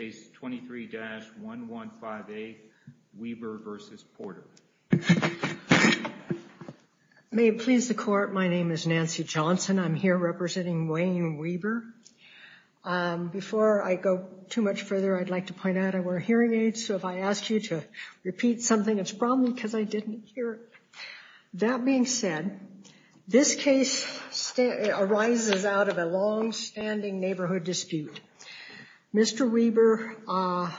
May it please the court, my name is Nancy Johnson, I'm here representing Wayne Weber. Before I go too much further, I'd like to point out I wear hearing aids, so if I asked you to repeat something, it's probably because I didn't hear it. That being said, this case arises out of a long-standing neighborhood dispute. Mr. Weber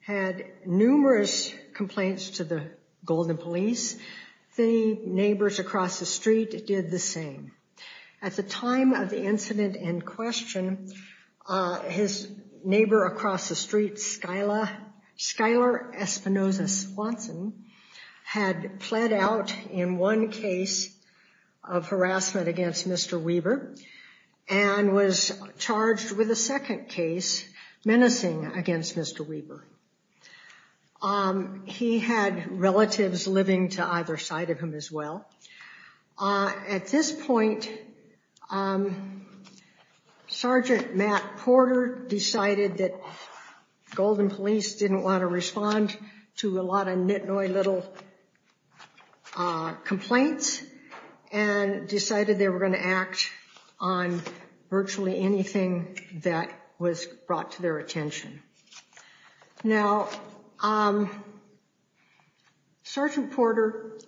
had numerous complaints to the Golden Police. Many neighbors across the street did the same. At the time of the incident in question, his neighbor across the street, Skylar Espinosa-Swanson, had pled out in one case of harassment against Mr. Weber and was charged with a second case menacing against Mr. Weber. He had relatives living to either side of him as well. At this point, Sergeant Matt Porter decided that Golden Police didn't want to respond to a lot of nit-noy little complaints and decided they were going to act on virtually anything that was brought to their attention. Now, Sergeant Porter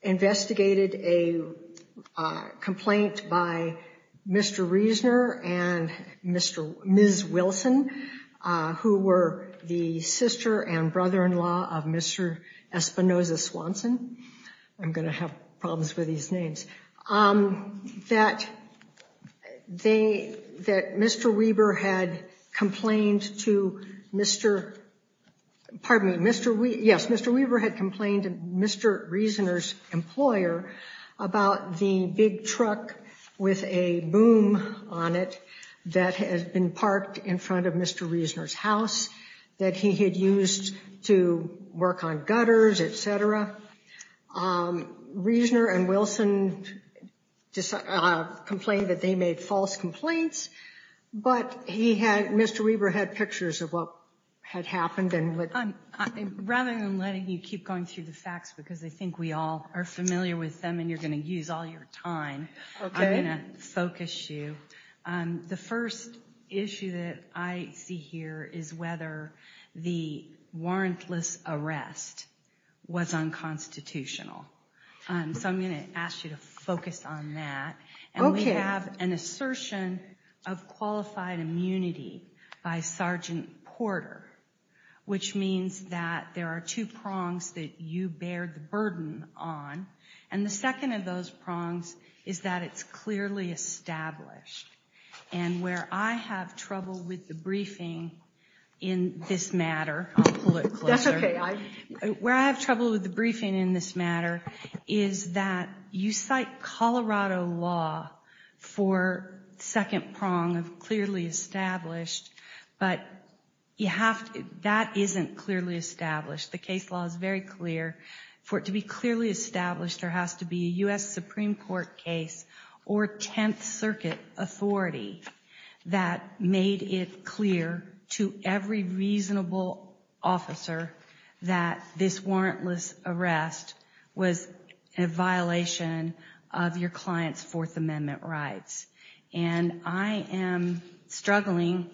investigated a complaint by Mr. Reisner and Ms. Wilson, who were the sister and brother-in-law of Mr. Espinosa-Swanson, that Mr. Weber had complained to Mr. Reisner's employer about the big truck with a boom on it that had been parked in front of Mr. Reisner's house that he had used to work on gutters, etc. Reisner and Wilson complained that they made false complaints, but Mr. Weber had pictures of what had happened. Rather than letting you keep going through the facts, because I think we all are familiar with them and you're going to use all your time, I'm going to focus you. The first issue that I see here is whether the warrantless arrest was unconstitutional. So I'm going to ask you to focus on that, and we have an assertion of qualified immunity by Sergeant Porter, which means that there are two prongs that you bear the burden on, and the second of those prongs is that it's clearly established. And where I have trouble with the briefing in this matter, I'll pull it closer, where I have trouble with the briefing in this matter is that you cite Colorado law for the second prong of clearly established, but that isn't clearly established. The case law is very clear. For it to be clearly established, there has to be a U.S. Supreme Court case or 10th Circuit authority that made it clear to every reasonable officer that this warrantless arrest was a violation of your client's Fourth Amendment rights. And I am struggling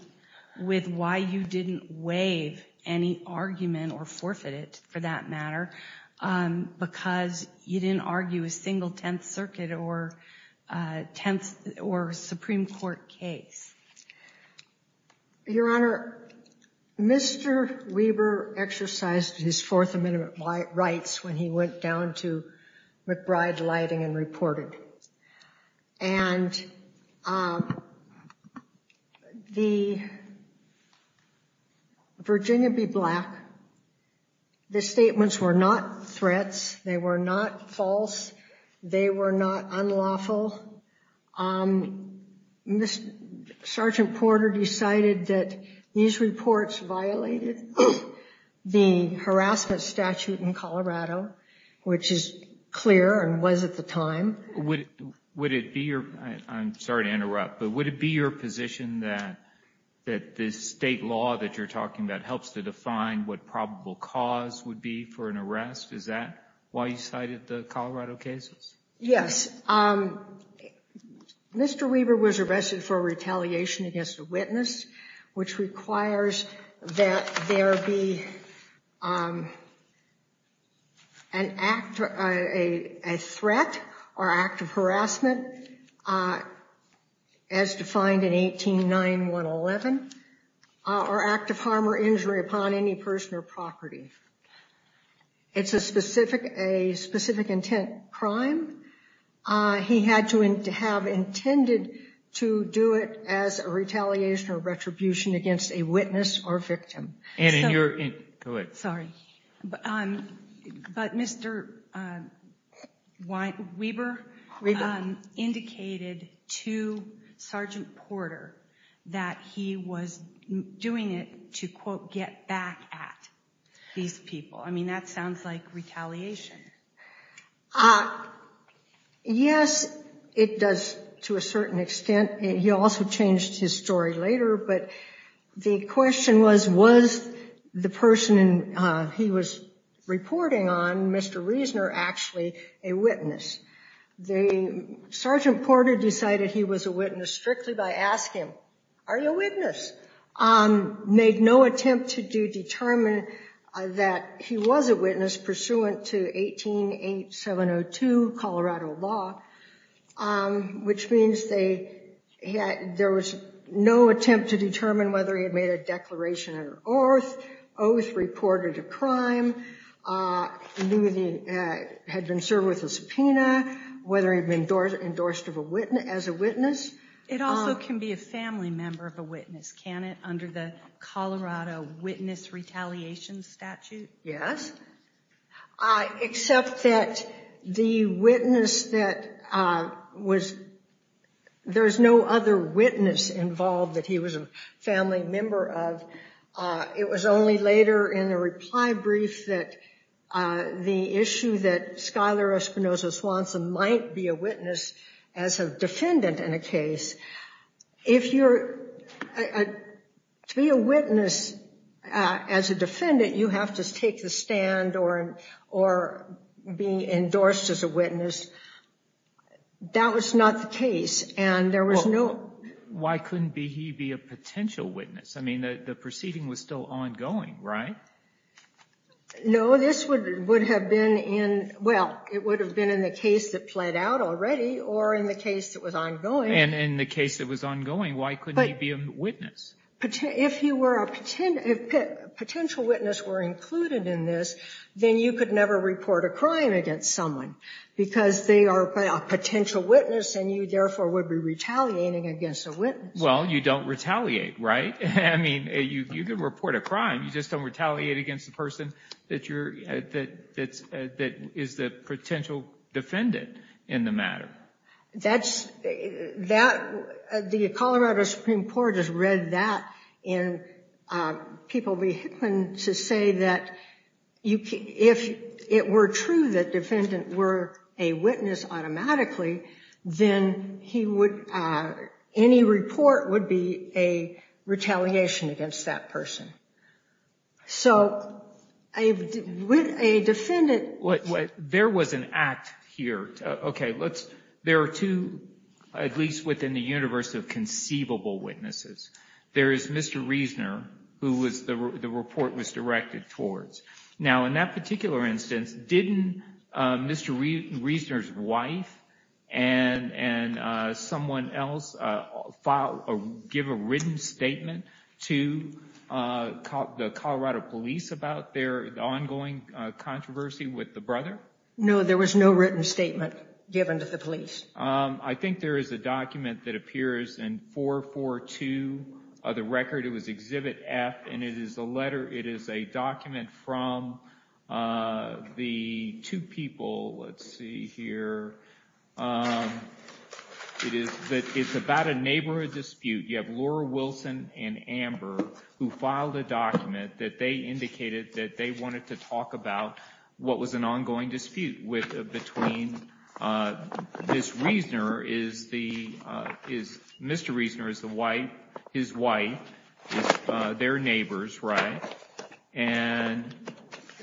with why you didn't waive any argument or forfeit it, for that matter, because you didn't argue a single 10th Circuit or 10th or Supreme Court case. Your Honor, Mr. Weber exercised his Fourth Amendment rights when he went down to McBride Lighting and reported, and the Virginia B. Black, the statements were not threats. They were not false. They were not unlawful. Mr. Sergeant Porter decided that these reports violated the harassment statute in Colorado, which is clear and was at the time. Would it be your, I'm sorry to interrupt, but would it be your position that this state law that you're talking about helps to define what probable cause would be for an arrest? Is that why you cited the Colorado cases? Yes. Mr. Weber was arrested for retaliation against a witness, which requires that there be an act, a threat or act of harassment, as defined in 18-9111, or act of harm or injury upon any person or property. It's a specific, a specific intent crime. He had to have intended to do it as a retaliation or retribution against a witness or victim. Anna, you're in, go ahead. Sorry, but Mr. Weber indicated to Sergeant Porter that he was doing it to, quote, get back at these people. I mean, that sounds like retaliation. Yes, it does to a certain extent. He also changed his story later, but the question was, was the person he was reporting on, Mr. Reisner, actually a witness? Sergeant Porter decided he was a witness strictly by asking, are you a witness? Made no attempt to determine that he was a witness pursuant to 18-8702 Colorado law, which means there was no attempt to determine whether he had made a declaration of oath, oath reported a crime, had been served with a subpoena, whether he'd been endorsed as a witness. It also can be a family member of a witness, can it, under the Colorado Witness Retaliation Statute? Yes, except that the witness that was, there's no other witness involved that he was a family member of. It was only later in the reply brief that the issue that Schuyler Espinosa Swanson might be a witness as a defendant in a case. If you're, to be a witness as a defendant, you have to take the stand or be endorsed as a witness. That was not the case, and there was no... Why couldn't he be a potential witness? I mean, the proceeding was still ongoing, right? No, this would have been in, well, it would have been in the case that played out already or in the case that was ongoing. And in the case that was ongoing, why couldn't he be a witness? If you were a potential witness were included in this, then you could never report a crime against someone because they are a potential witness and you therefore would be retaliating against a witness. Well, you don't retaliate, right? I mean, you could report a crime. You just don't retaliate against the person that is the potential defendant in the matter. That's, that, the Colorado Supreme Court has read that in People v. Hickman to say that if it were true that defendants were a witness automatically, then he would, any report would be a retaliation against that person. So, with a defendant... There was an act here. Okay, let's, there are two, at least within the universe of conceivable witnesses. There is Mr. Reisner, who was, the report was directed towards. Now, in that particular instance, didn't Mr. Reisner's wife and someone else give a written statement to the Colorado police about their ongoing controversy with the brother? No, there was no written statement given to the police. I think there is a document that appears in 442 of the record. It was Exhibit F and it is a letter, it is a document from the two people. Let's see here. It is, it's about a neighborhood dispute. You have Laura Wilson and Amber who filed a document that they indicated that they wanted to talk about what was an ongoing dispute between this Reisner is the, is Mr. Reisner's wife, his wife, their neighbors, right? And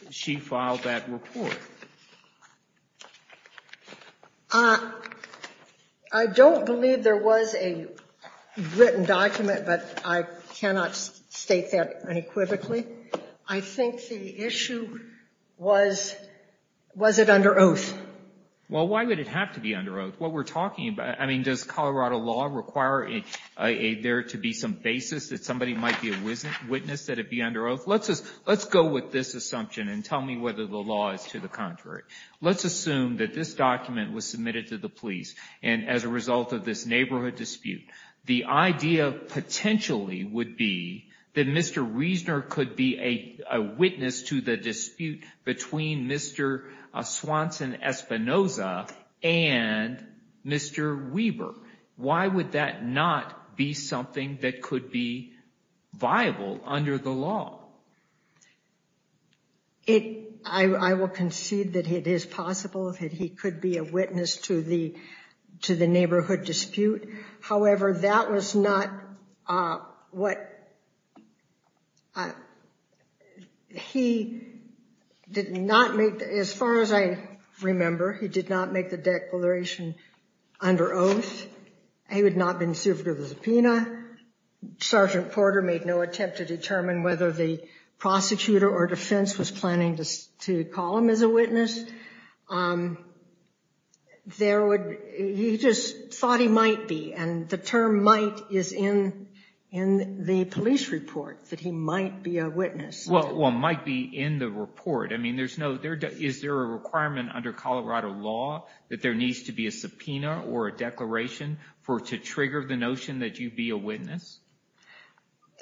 she filed that report. I don't believe there was a written document, but I cannot state that unequivocally. I think the issue was, was it under oath? Well, why would it have to be under oath? What we're talking about, I mean, does Colorado law require there to be some basis that somebody might be a witness that it be under oath? Let's just, let's go with this assumption and tell me whether the law is to the contrary. Let's assume that this document was submitted to the police and as a result of this neighborhood dispute, the idea potentially would be that Mr. Reisner could be a witness to the dispute between Mr. Swanson Espinoza and Mr. Weber. Why would that not be something that could be viable under the law? It, I will concede that it is possible that he could be a witness to the, to the neighborhood dispute. However, that was not what, he did not make, as far as I remember, he did not make the declaration under oath. He would not have been served with a subpoena. Sergeant Porter made no attempt to determine whether the prosecutor or defense was planning to call him as a witness. There would, he just thought he might be, and the term might is in, in the police report that he might be a witness. Well, well, might be in the report. I mean, there's no, there, is there a requirement under Colorado law that there needs to be a subpoena or a declaration for, to trigger the notion that you'd be a witness?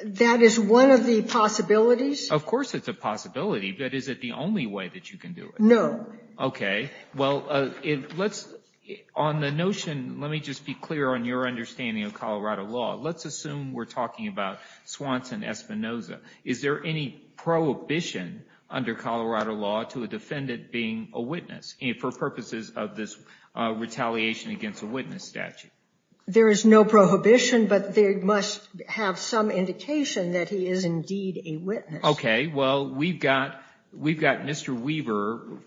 That is one of the possibilities. Of course it's a possibility, but is it the only way that you can do it? No. Well, let's, on the notion, let me just be clear on your understanding of Colorado law. Let's assume we're talking about Swanson Espinosa. Is there any prohibition under Colorado law to a defendant being a witness for purposes of this retaliation against a witness statute? There is no prohibition, but they must have some indication that he is indeed a witness. Okay. Well, we've got, we've got Mr. Weaver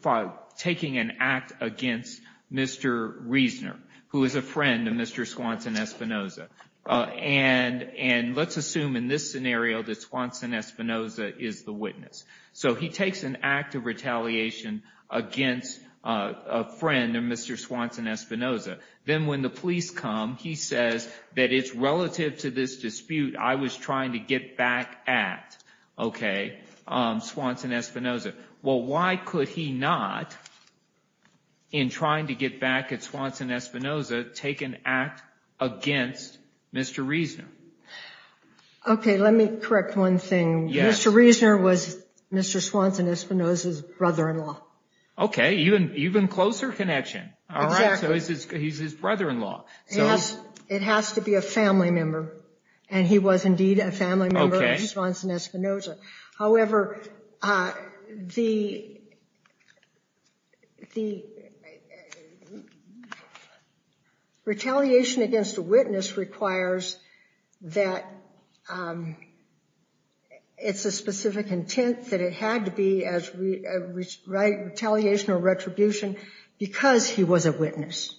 taking an act against Mr. Reisner, who is a friend of Mr. Swanson Espinosa. And, and let's assume in this scenario that Swanson Espinosa is the witness. So he takes an act of retaliation against a friend of Mr. Swanson Espinosa. Then when the police come, he says that it's relative to this dispute I was trying to get back at. Okay, Swanson Espinosa. Well, why could he not, in trying to get back at Swanson Espinosa, take an act against Mr. Reisner? Okay, let me correct one thing. Mr. Reisner was Mr. Swanson Espinosa's brother-in-law. Okay, even, even closer connection. All right. So he's his brother-in-law. So it has to be a family member. And he was indeed a family member of Mr. Swanson Espinosa. However, the, the retaliation against a witness requires that it's a specific intent that it had to be as, right, retaliation or retribution because he was a witness.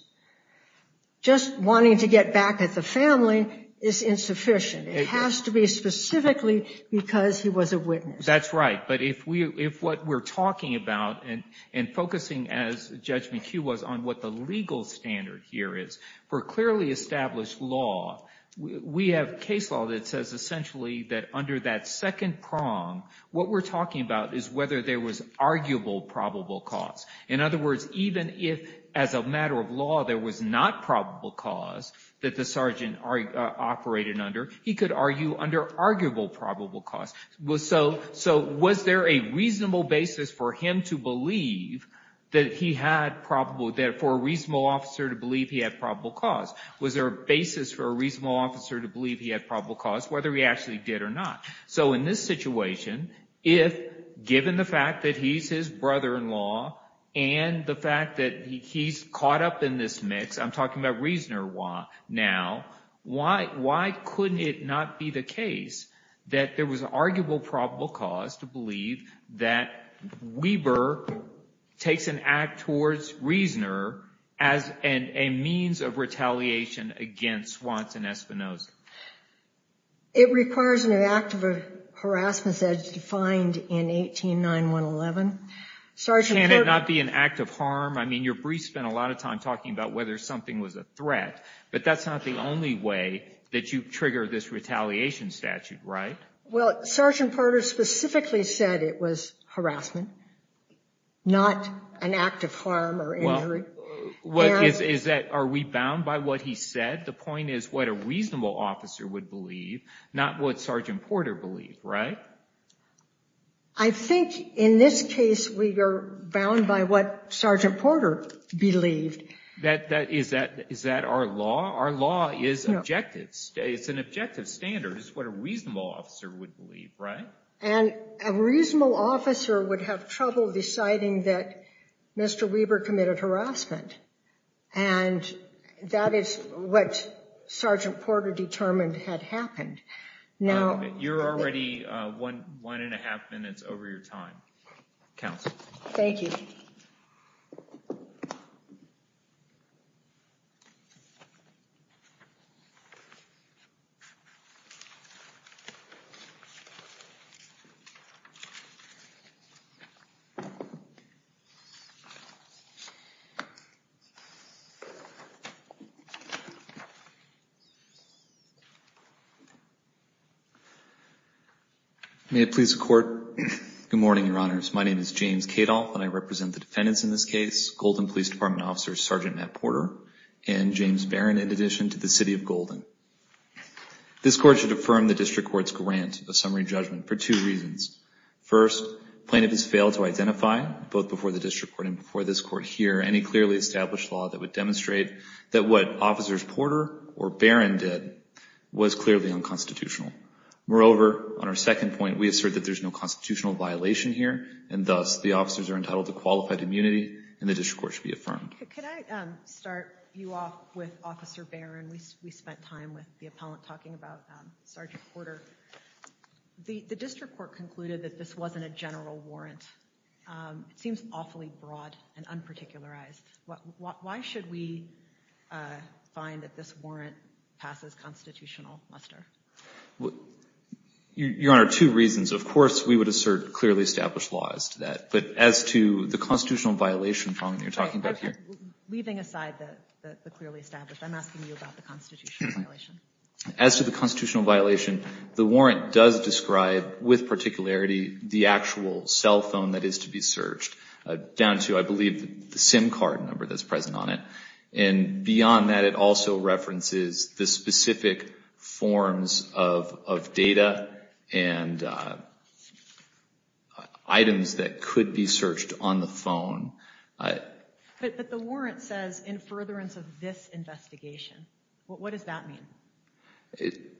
Just wanting to get back at the family is insufficient. It has to be specifically because he was a witness. That's right. But if we, if what we're talking about and, and focusing as Judge McHugh was on what the legal standard here is, for clearly established law, we have case law that says essentially that under that second prong, what we're talking about is whether there was arguable probable cause. In other words, even if as a matter of law, there was not probable cause that the sergeant operated under, he could argue under arguable probable cause. So was there a reasonable basis for him to believe that he had probable, that for a reasonable officer to believe he had probable cause? Was there a basis for a reasonable officer to believe he had probable cause, whether he actually did or not? So in this situation, if given the fact that he's his brother-in-law and the fact that he's caught up in this mix, I'm talking about Reasoner now, why, why couldn't it not be the case that there was an arguable probable cause to believe that Weber takes an act towards Reasoner as a means of retaliation against Swanson Espinoza? It requires an act of harassment as defined in 18-9111. Can it not be an act of harm? I mean, your brief spent a lot of time talking about whether something was a threat, but that's not the only way that you trigger this retaliation statute, right? Well, Sergeant Porter specifically said it was harassment, not an act of harm or injury. Well, is that, are we bound by what he said? The point is what a reasonable officer would believe, not what Sergeant Porter believed, right? I think in this case, we are bound by what Sergeant Porter believed. That, that, is that, is that our law? Our law is objective. It's an objective standard. It's what a reasonable officer would believe, right? And a reasonable officer would have trouble deciding that Mr. Weber committed harassment. And that is what Sergeant Porter determined had happened. Now— You're already one, one and a half minutes over your time, counsel. Thank you. May it please the Court, good morning, Your Honors. My name is James Kadolf, and I represent the defendants in this case, Golden Police Department Officer Sergeant Matt Porter and James Barron, in addition to the City of Golden. This Court should affirm the District Court's grant of summary judgment for two reasons. First, plaintiff has failed to identify, both before the District Court and before this Court here, any clearly established evidence of the defendant's involvement in this case. Second, plaintiff has failed to identify any clearly established law that would demonstrate that what Officers Porter or Barron did was clearly unconstitutional. Moreover, on our second point, we assert that there's no constitutional violation here, and thus, the officers are entitled to qualified immunity, and the District Court should be affirmed. Could I start you off with Officer Barron? We spent time with the appellant talking about Sergeant Porter. The District Court concluded that this wasn't a general warrant. It seems awfully broad and unparticularized. Why should we find that this warrant passes constitutional muster? Your Honor, two reasons. Of course, we would assert clearly established laws to that, but as to the constitutional violation problem you're talking about here? Leaving aside the clearly established, I'm asking you about the constitutional violation. As to the constitutional violation, the warrant does describe, with particularity, the actual cell phone that is to be searched, down to, I believe, the SIM card number that's present on it. Beyond that, it also references the specific forms of data and items that could be searched on the phone. But the warrant says, in furtherance of this investigation. What does that mean? It.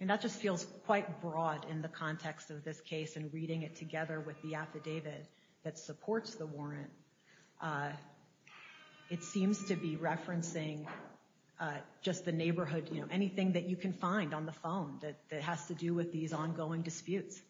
That just feels quite broad in the context of this case and reading it together with the affidavit that supports the warrant. It seems to be referencing just the neighborhood. Anything that you can find on the phone that has to do with these ongoing disputes.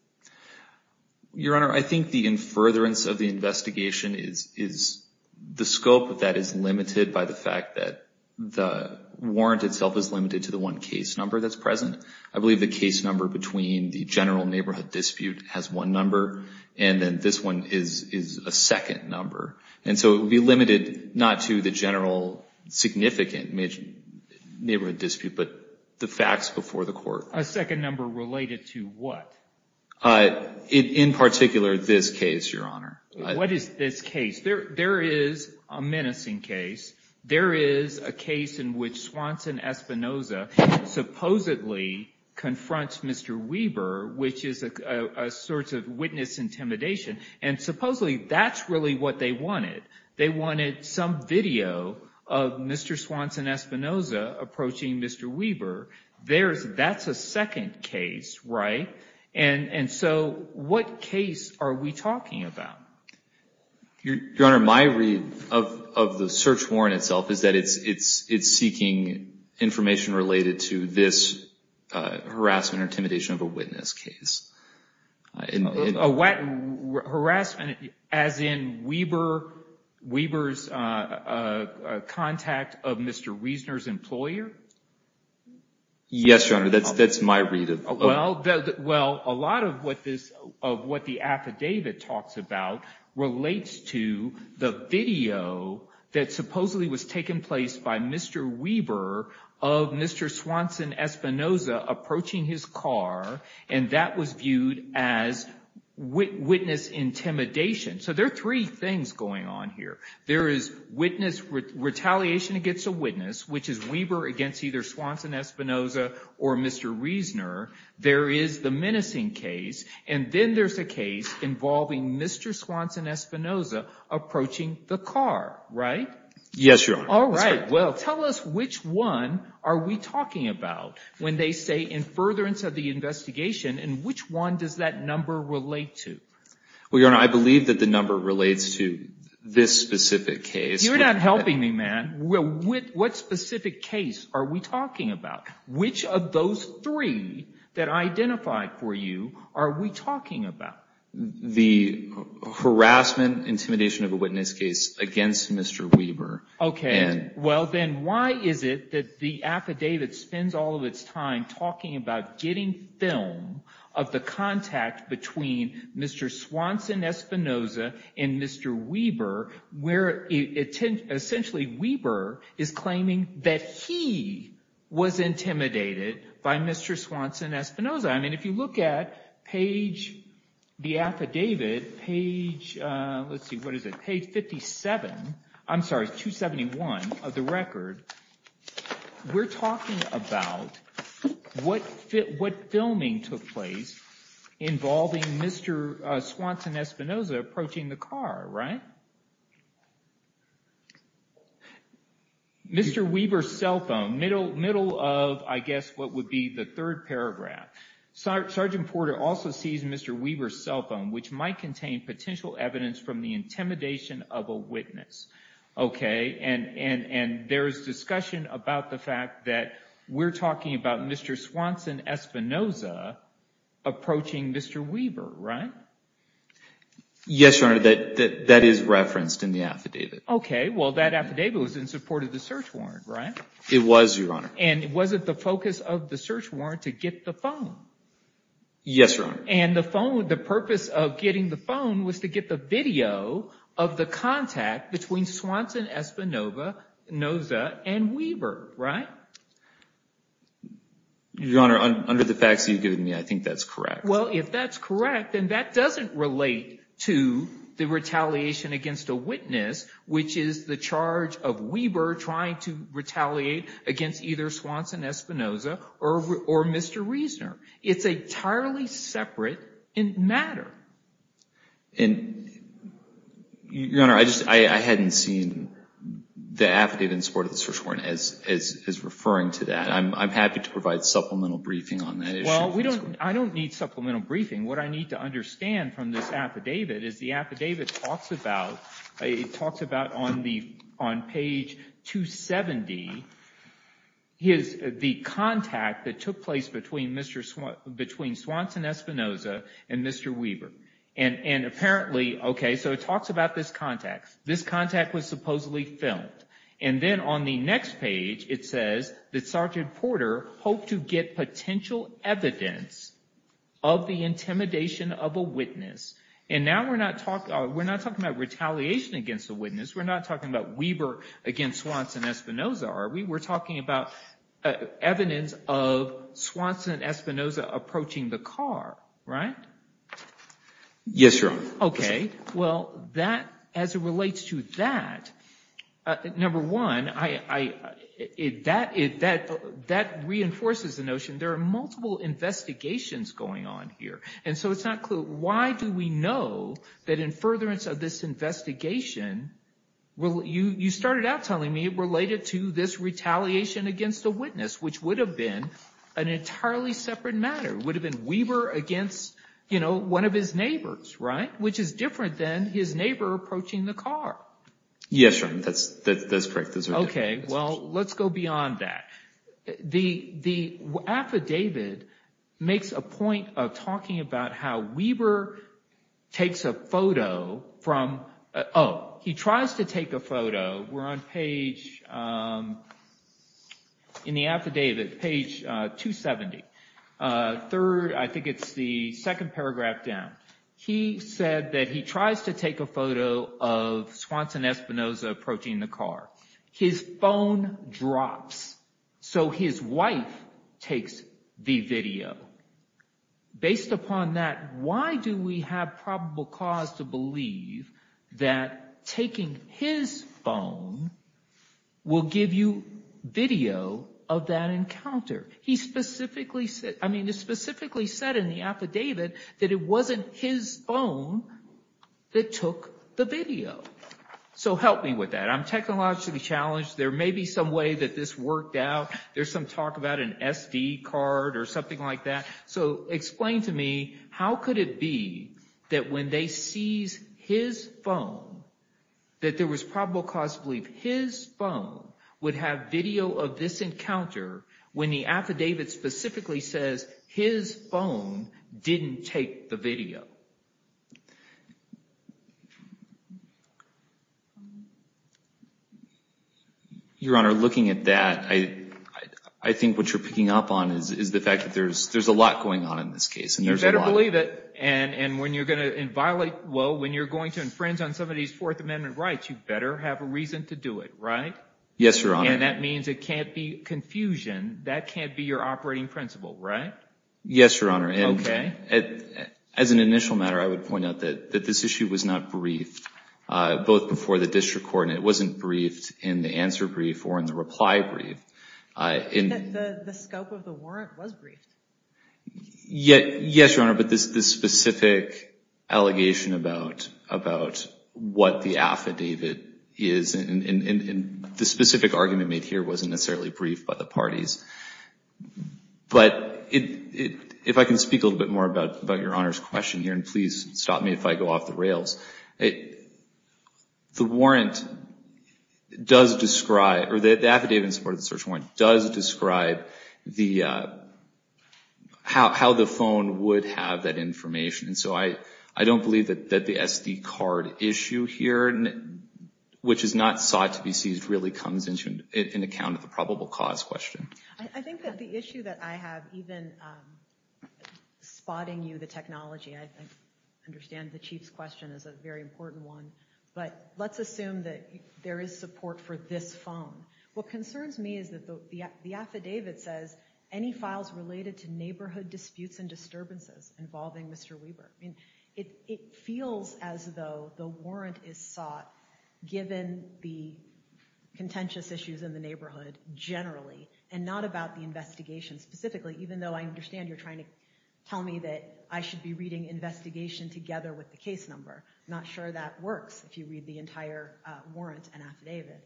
Your Honor, I think the in furtherance of the investigation is the scope of that is limited by the fact that the warrant itself is limited to the one case number that's present. I believe the case number between the general neighborhood dispute has one number, and then this one is a second number. And so it would be limited not to the general significant neighborhood dispute, but the facts before the court. A second number related to what? In particular, this case, Your Honor. What is this case? There is a menacing case. There is a case in which Swanson Espinoza supposedly confronts Mr. Weber, which is a sort of witness intimidation. And supposedly that's really what they wanted. They wanted some video of Mr. Swanson Espinoza approaching Mr. Weber. That's a second case, right? And so what case are we talking about? Your Honor, my read of the search warrant itself is that it's seeking information related to this harassment or intimidation of a witness case. Harassment as in Weber's contact of Mr. Wiesner's employer? Yes, Your Honor. That's my read of it. Well, a lot of what the affidavit talks about relates to the video that supposedly was taken place by Mr. Weber of Mr. Swanson Espinoza approaching his car, and that was viewed as witness intimidation. So there are three things going on here. There is witness retaliation against a witness, which is Weber against either Swanson Espinoza or Mr. Wiesner. There is the menacing case. And then there's a case involving Mr. Swanson Espinoza approaching the car, right? Yes, Your Honor. All right. Well, tell us which one are we talking about when they say in furtherance of the investigation, and which one does that number relate to? Well, Your Honor, I believe that the number relates to this specific case. You're not helping me, man. What specific case are we talking about? Which of those three that I identified for you are we talking about? The harassment intimidation of a witness case against Mr. Weber. Okay. Well, then why is it that the affidavit spends all of its time talking about getting film of the contact between Mr. Swanson Espinoza and Mr. Weber, where essentially Weber is claiming that he was intimidated by Mr. Swanson Espinoza? I mean, if you look at page, the affidavit, page, let's see, what is it? Page 57, I'm sorry, 271 of the record. We're talking about what filming took place involving Mr. Swanson Espinoza approaching the car, right? Mr. Weber's cell phone, middle of, I guess, what would be the third paragraph. Sergeant Porter also sees Mr. Weber's cell phone, which might contain potential evidence from the intimidation of a witness. Okay. And there is discussion about the fact that we're talking about Mr. Swanson Espinoza approaching Mr. Weber, right? Yes, Your Honor, that is referenced in the affidavit. Okay, well, that affidavit was in support of the search warrant, right? It was, Your Honor. And was it the focus of the search warrant to get the phone? Yes, Your Honor. And the phone, the purpose of getting the phone was to get the video of the contact between Swanson Espinoza and Weber, right? Your Honor, under the facts you've given me, I think that's correct. Well, if that's correct, then that doesn't relate to the retaliation against a witness which is the charge of Weber trying to retaliate against either Swanson Espinoza or Mr. Reisner. It's entirely separate in matter. And, Your Honor, I hadn't seen the affidavit in support of the search warrant as referring to that. I'm happy to provide supplemental briefing on that issue. Well, I don't need supplemental briefing. What I need to understand from this affidavit is the affidavit talks about on page 270 the contact that took place between Swanson Espinoza and Mr. Weber. And apparently, okay, so it talks about this contact. This contact was supposedly filmed. And then on the next page, it says that Sergeant Porter hoped to get potential evidence of the intimidation of a witness. And now we're not talking about retaliation against a witness. We're not talking about Weber against Swanson Espinoza, are we? We're talking about evidence of Swanson Espinoza approaching the car, right? Yes, Your Honor. Okay. Well, as it relates to that, number one, that reinforces the notion there are multiple investigations going on here. And so it's not clear. Why do we know that in furtherance of this investigation, well, you started out telling me it related to this retaliation against a witness, which would have been an entirely separate matter. It would have been Weber against, you know, one of his neighbors, right? Which is different than his neighbor approaching the car. Yes, Your Honor. That's correct. Okay. Well, let's go beyond that. The affidavit makes a point of talking about how Weber takes a photo from, oh, he tries to take a photo. We're on page, in the affidavit, page 270. Third, I think it's the second paragraph down. He said that he tries to take a photo of Swanson Espinoza approaching the car. His phone drops. So his wife takes the video. Based upon that, why do we have probable cause to believe that taking his phone will give you video of that encounter? He specifically said, I mean, it specifically said in the affidavit that it wasn't his phone that took the video. So help me with that. I'm technologically challenged. There may be some way that this worked out. There's some talk about an SD card or something like that. So explain to me, how could it be that when they seize his phone, that there was probable cause to believe his phone would have video of this encounter when the affidavit specifically says his phone didn't take the video? Your Honor, looking at that, I think what you're picking up on is the fact that there's a lot going on in this case. You better believe it. And when you're going to violate, well, when you're going to infringe on somebody's Fourth Amendment rights, you better have a reason to do it, right? Yes, Your Honor. And that means it can't be confusion. That can't be your operating principle, right? Yes, Your Honor. As an initial matter, I would point out that this issue was not briefed, both before the brief and the answer brief or in the reply brief. The scope of the warrant was briefed? Yes, Your Honor. But this specific allegation about what the affidavit is, and the specific argument made here wasn't necessarily briefed by the parties. But if I can speak a little bit more about Your Honor's question here, and please stop me if I go off the rails, the affidavit in support of the search warrant does describe how the phone would have that information. And so I don't believe that the SD card issue here, which is not sought to be seized, really comes into an account of the probable cause question. I think that the issue that I have, even spotting you the technology, I understand the Chief's question is a very important one. But let's assume that there is support for this phone. What concerns me is that the affidavit says, any files related to neighborhood disputes and disturbances involving Mr. Weber. It feels as though the warrant is sought given the contentious issues in the neighborhood generally, and not about the investigation specifically. Even though I understand you're trying to tell me that I should be reading investigation together with the case number. I'm not sure that works if you read the entire warrant and affidavit.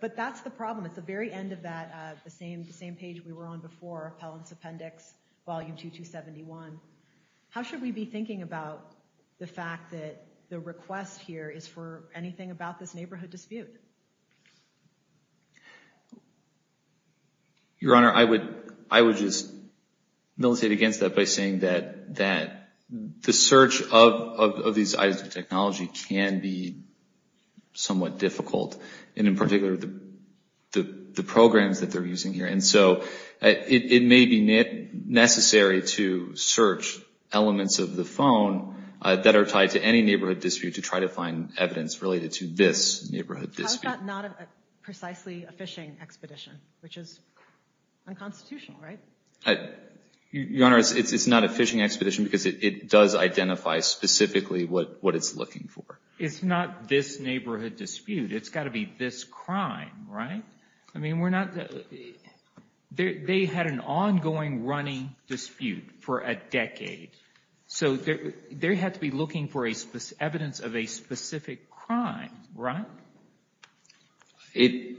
But that's the problem. It's the very end of the same page we were on before, Appellant's Appendix, Volume 2271. How should we be thinking about the fact that the request here is for anything about this neighborhood dispute? Your Honor, I would just militate against that by saying that the search of these items of technology can be somewhat difficult. And in particular, the programs that they're using here. And so it may be necessary to search elements of the phone that are tied to any neighborhood dispute to try to find evidence related to this neighborhood dispute. How about not precisely a fishing expedition, which is unconstitutional, right? Your Honor, it's not a fishing expedition because it does identify specifically what it's looking for. It's not this neighborhood dispute. It's got to be this crime, right? I mean, we're not... They had an ongoing running dispute for a decade. So they had to be looking for evidence of a specific crime, right? It...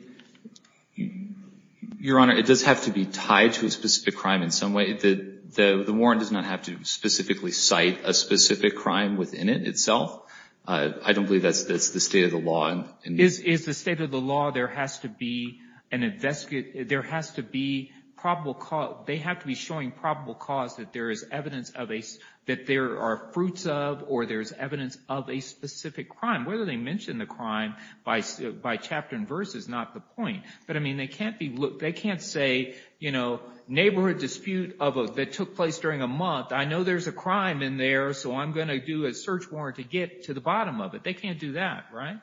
Your Honor, it does have to be tied to a specific crime in some way. The warrant does not have to specifically cite a specific crime within it itself. I don't believe that's the state of the law. Is the state of the law there has to be an investigate... There has to be probable cause... They have to be showing probable cause that there is evidence of a... That there are fruits of or there's evidence of a specific crime. Whether they mention the crime by chapter and verse is not the point. But I mean, they can't say, you know, neighborhood dispute that took place during a month. I know there's a crime in there, so I'm going to do a search warrant to get to the bottom of it. They can't do that, right?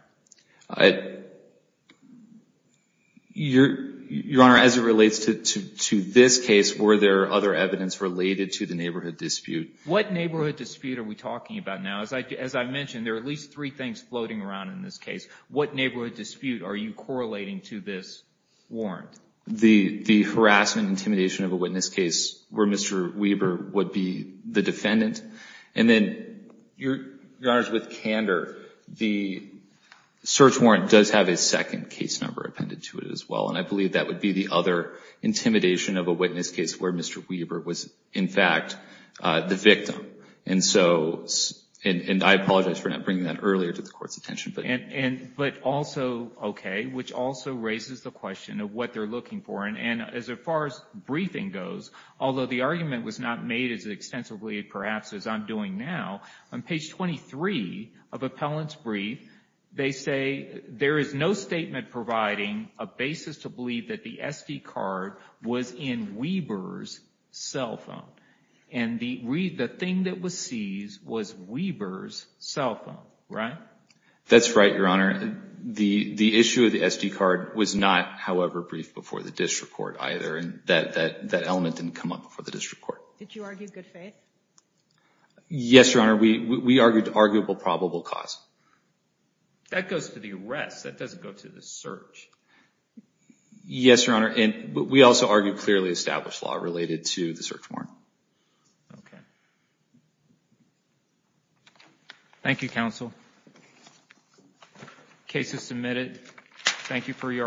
Your Honor, as it relates to this case, were there other evidence related to the neighborhood dispute? What neighborhood dispute are we talking about now? As I mentioned, there are at least three things floating around in this case. What neighborhood dispute are you correlating to this warrant? The harassment intimidation of a witness case where Mr. Weber would be the defendant. And then, Your Honor, with Kander, the search warrant does have a second case number appended to it as well. And I believe that would be the other intimidation of a witness case where Mr. Weber was, in fact, the victim. And so, and I apologize for not bringing that earlier to the Court's attention. But also, okay, which also raises the question of what they're looking for. And as far as briefing goes, although the argument was not made as extensively, perhaps, as I'm doing now, on page 23 of appellant's brief, they say there is no statement providing a basis to believe that the SD card was in Weber's cell phone. And the thing that was seized was Weber's cell phone, right? That's right, Your Honor. The issue of the SD card was not, however, briefed before the district court either. And that element didn't come up before the district court. Did you argue good faith? Yes, Your Honor. We argued arguable probable cause. That goes to the arrest. That doesn't go to the search. Yes, Your Honor. And we also argued clearly established law related to the search warrant. Okay. Thank you, counsel. Case is submitted. Thank you for your arguments.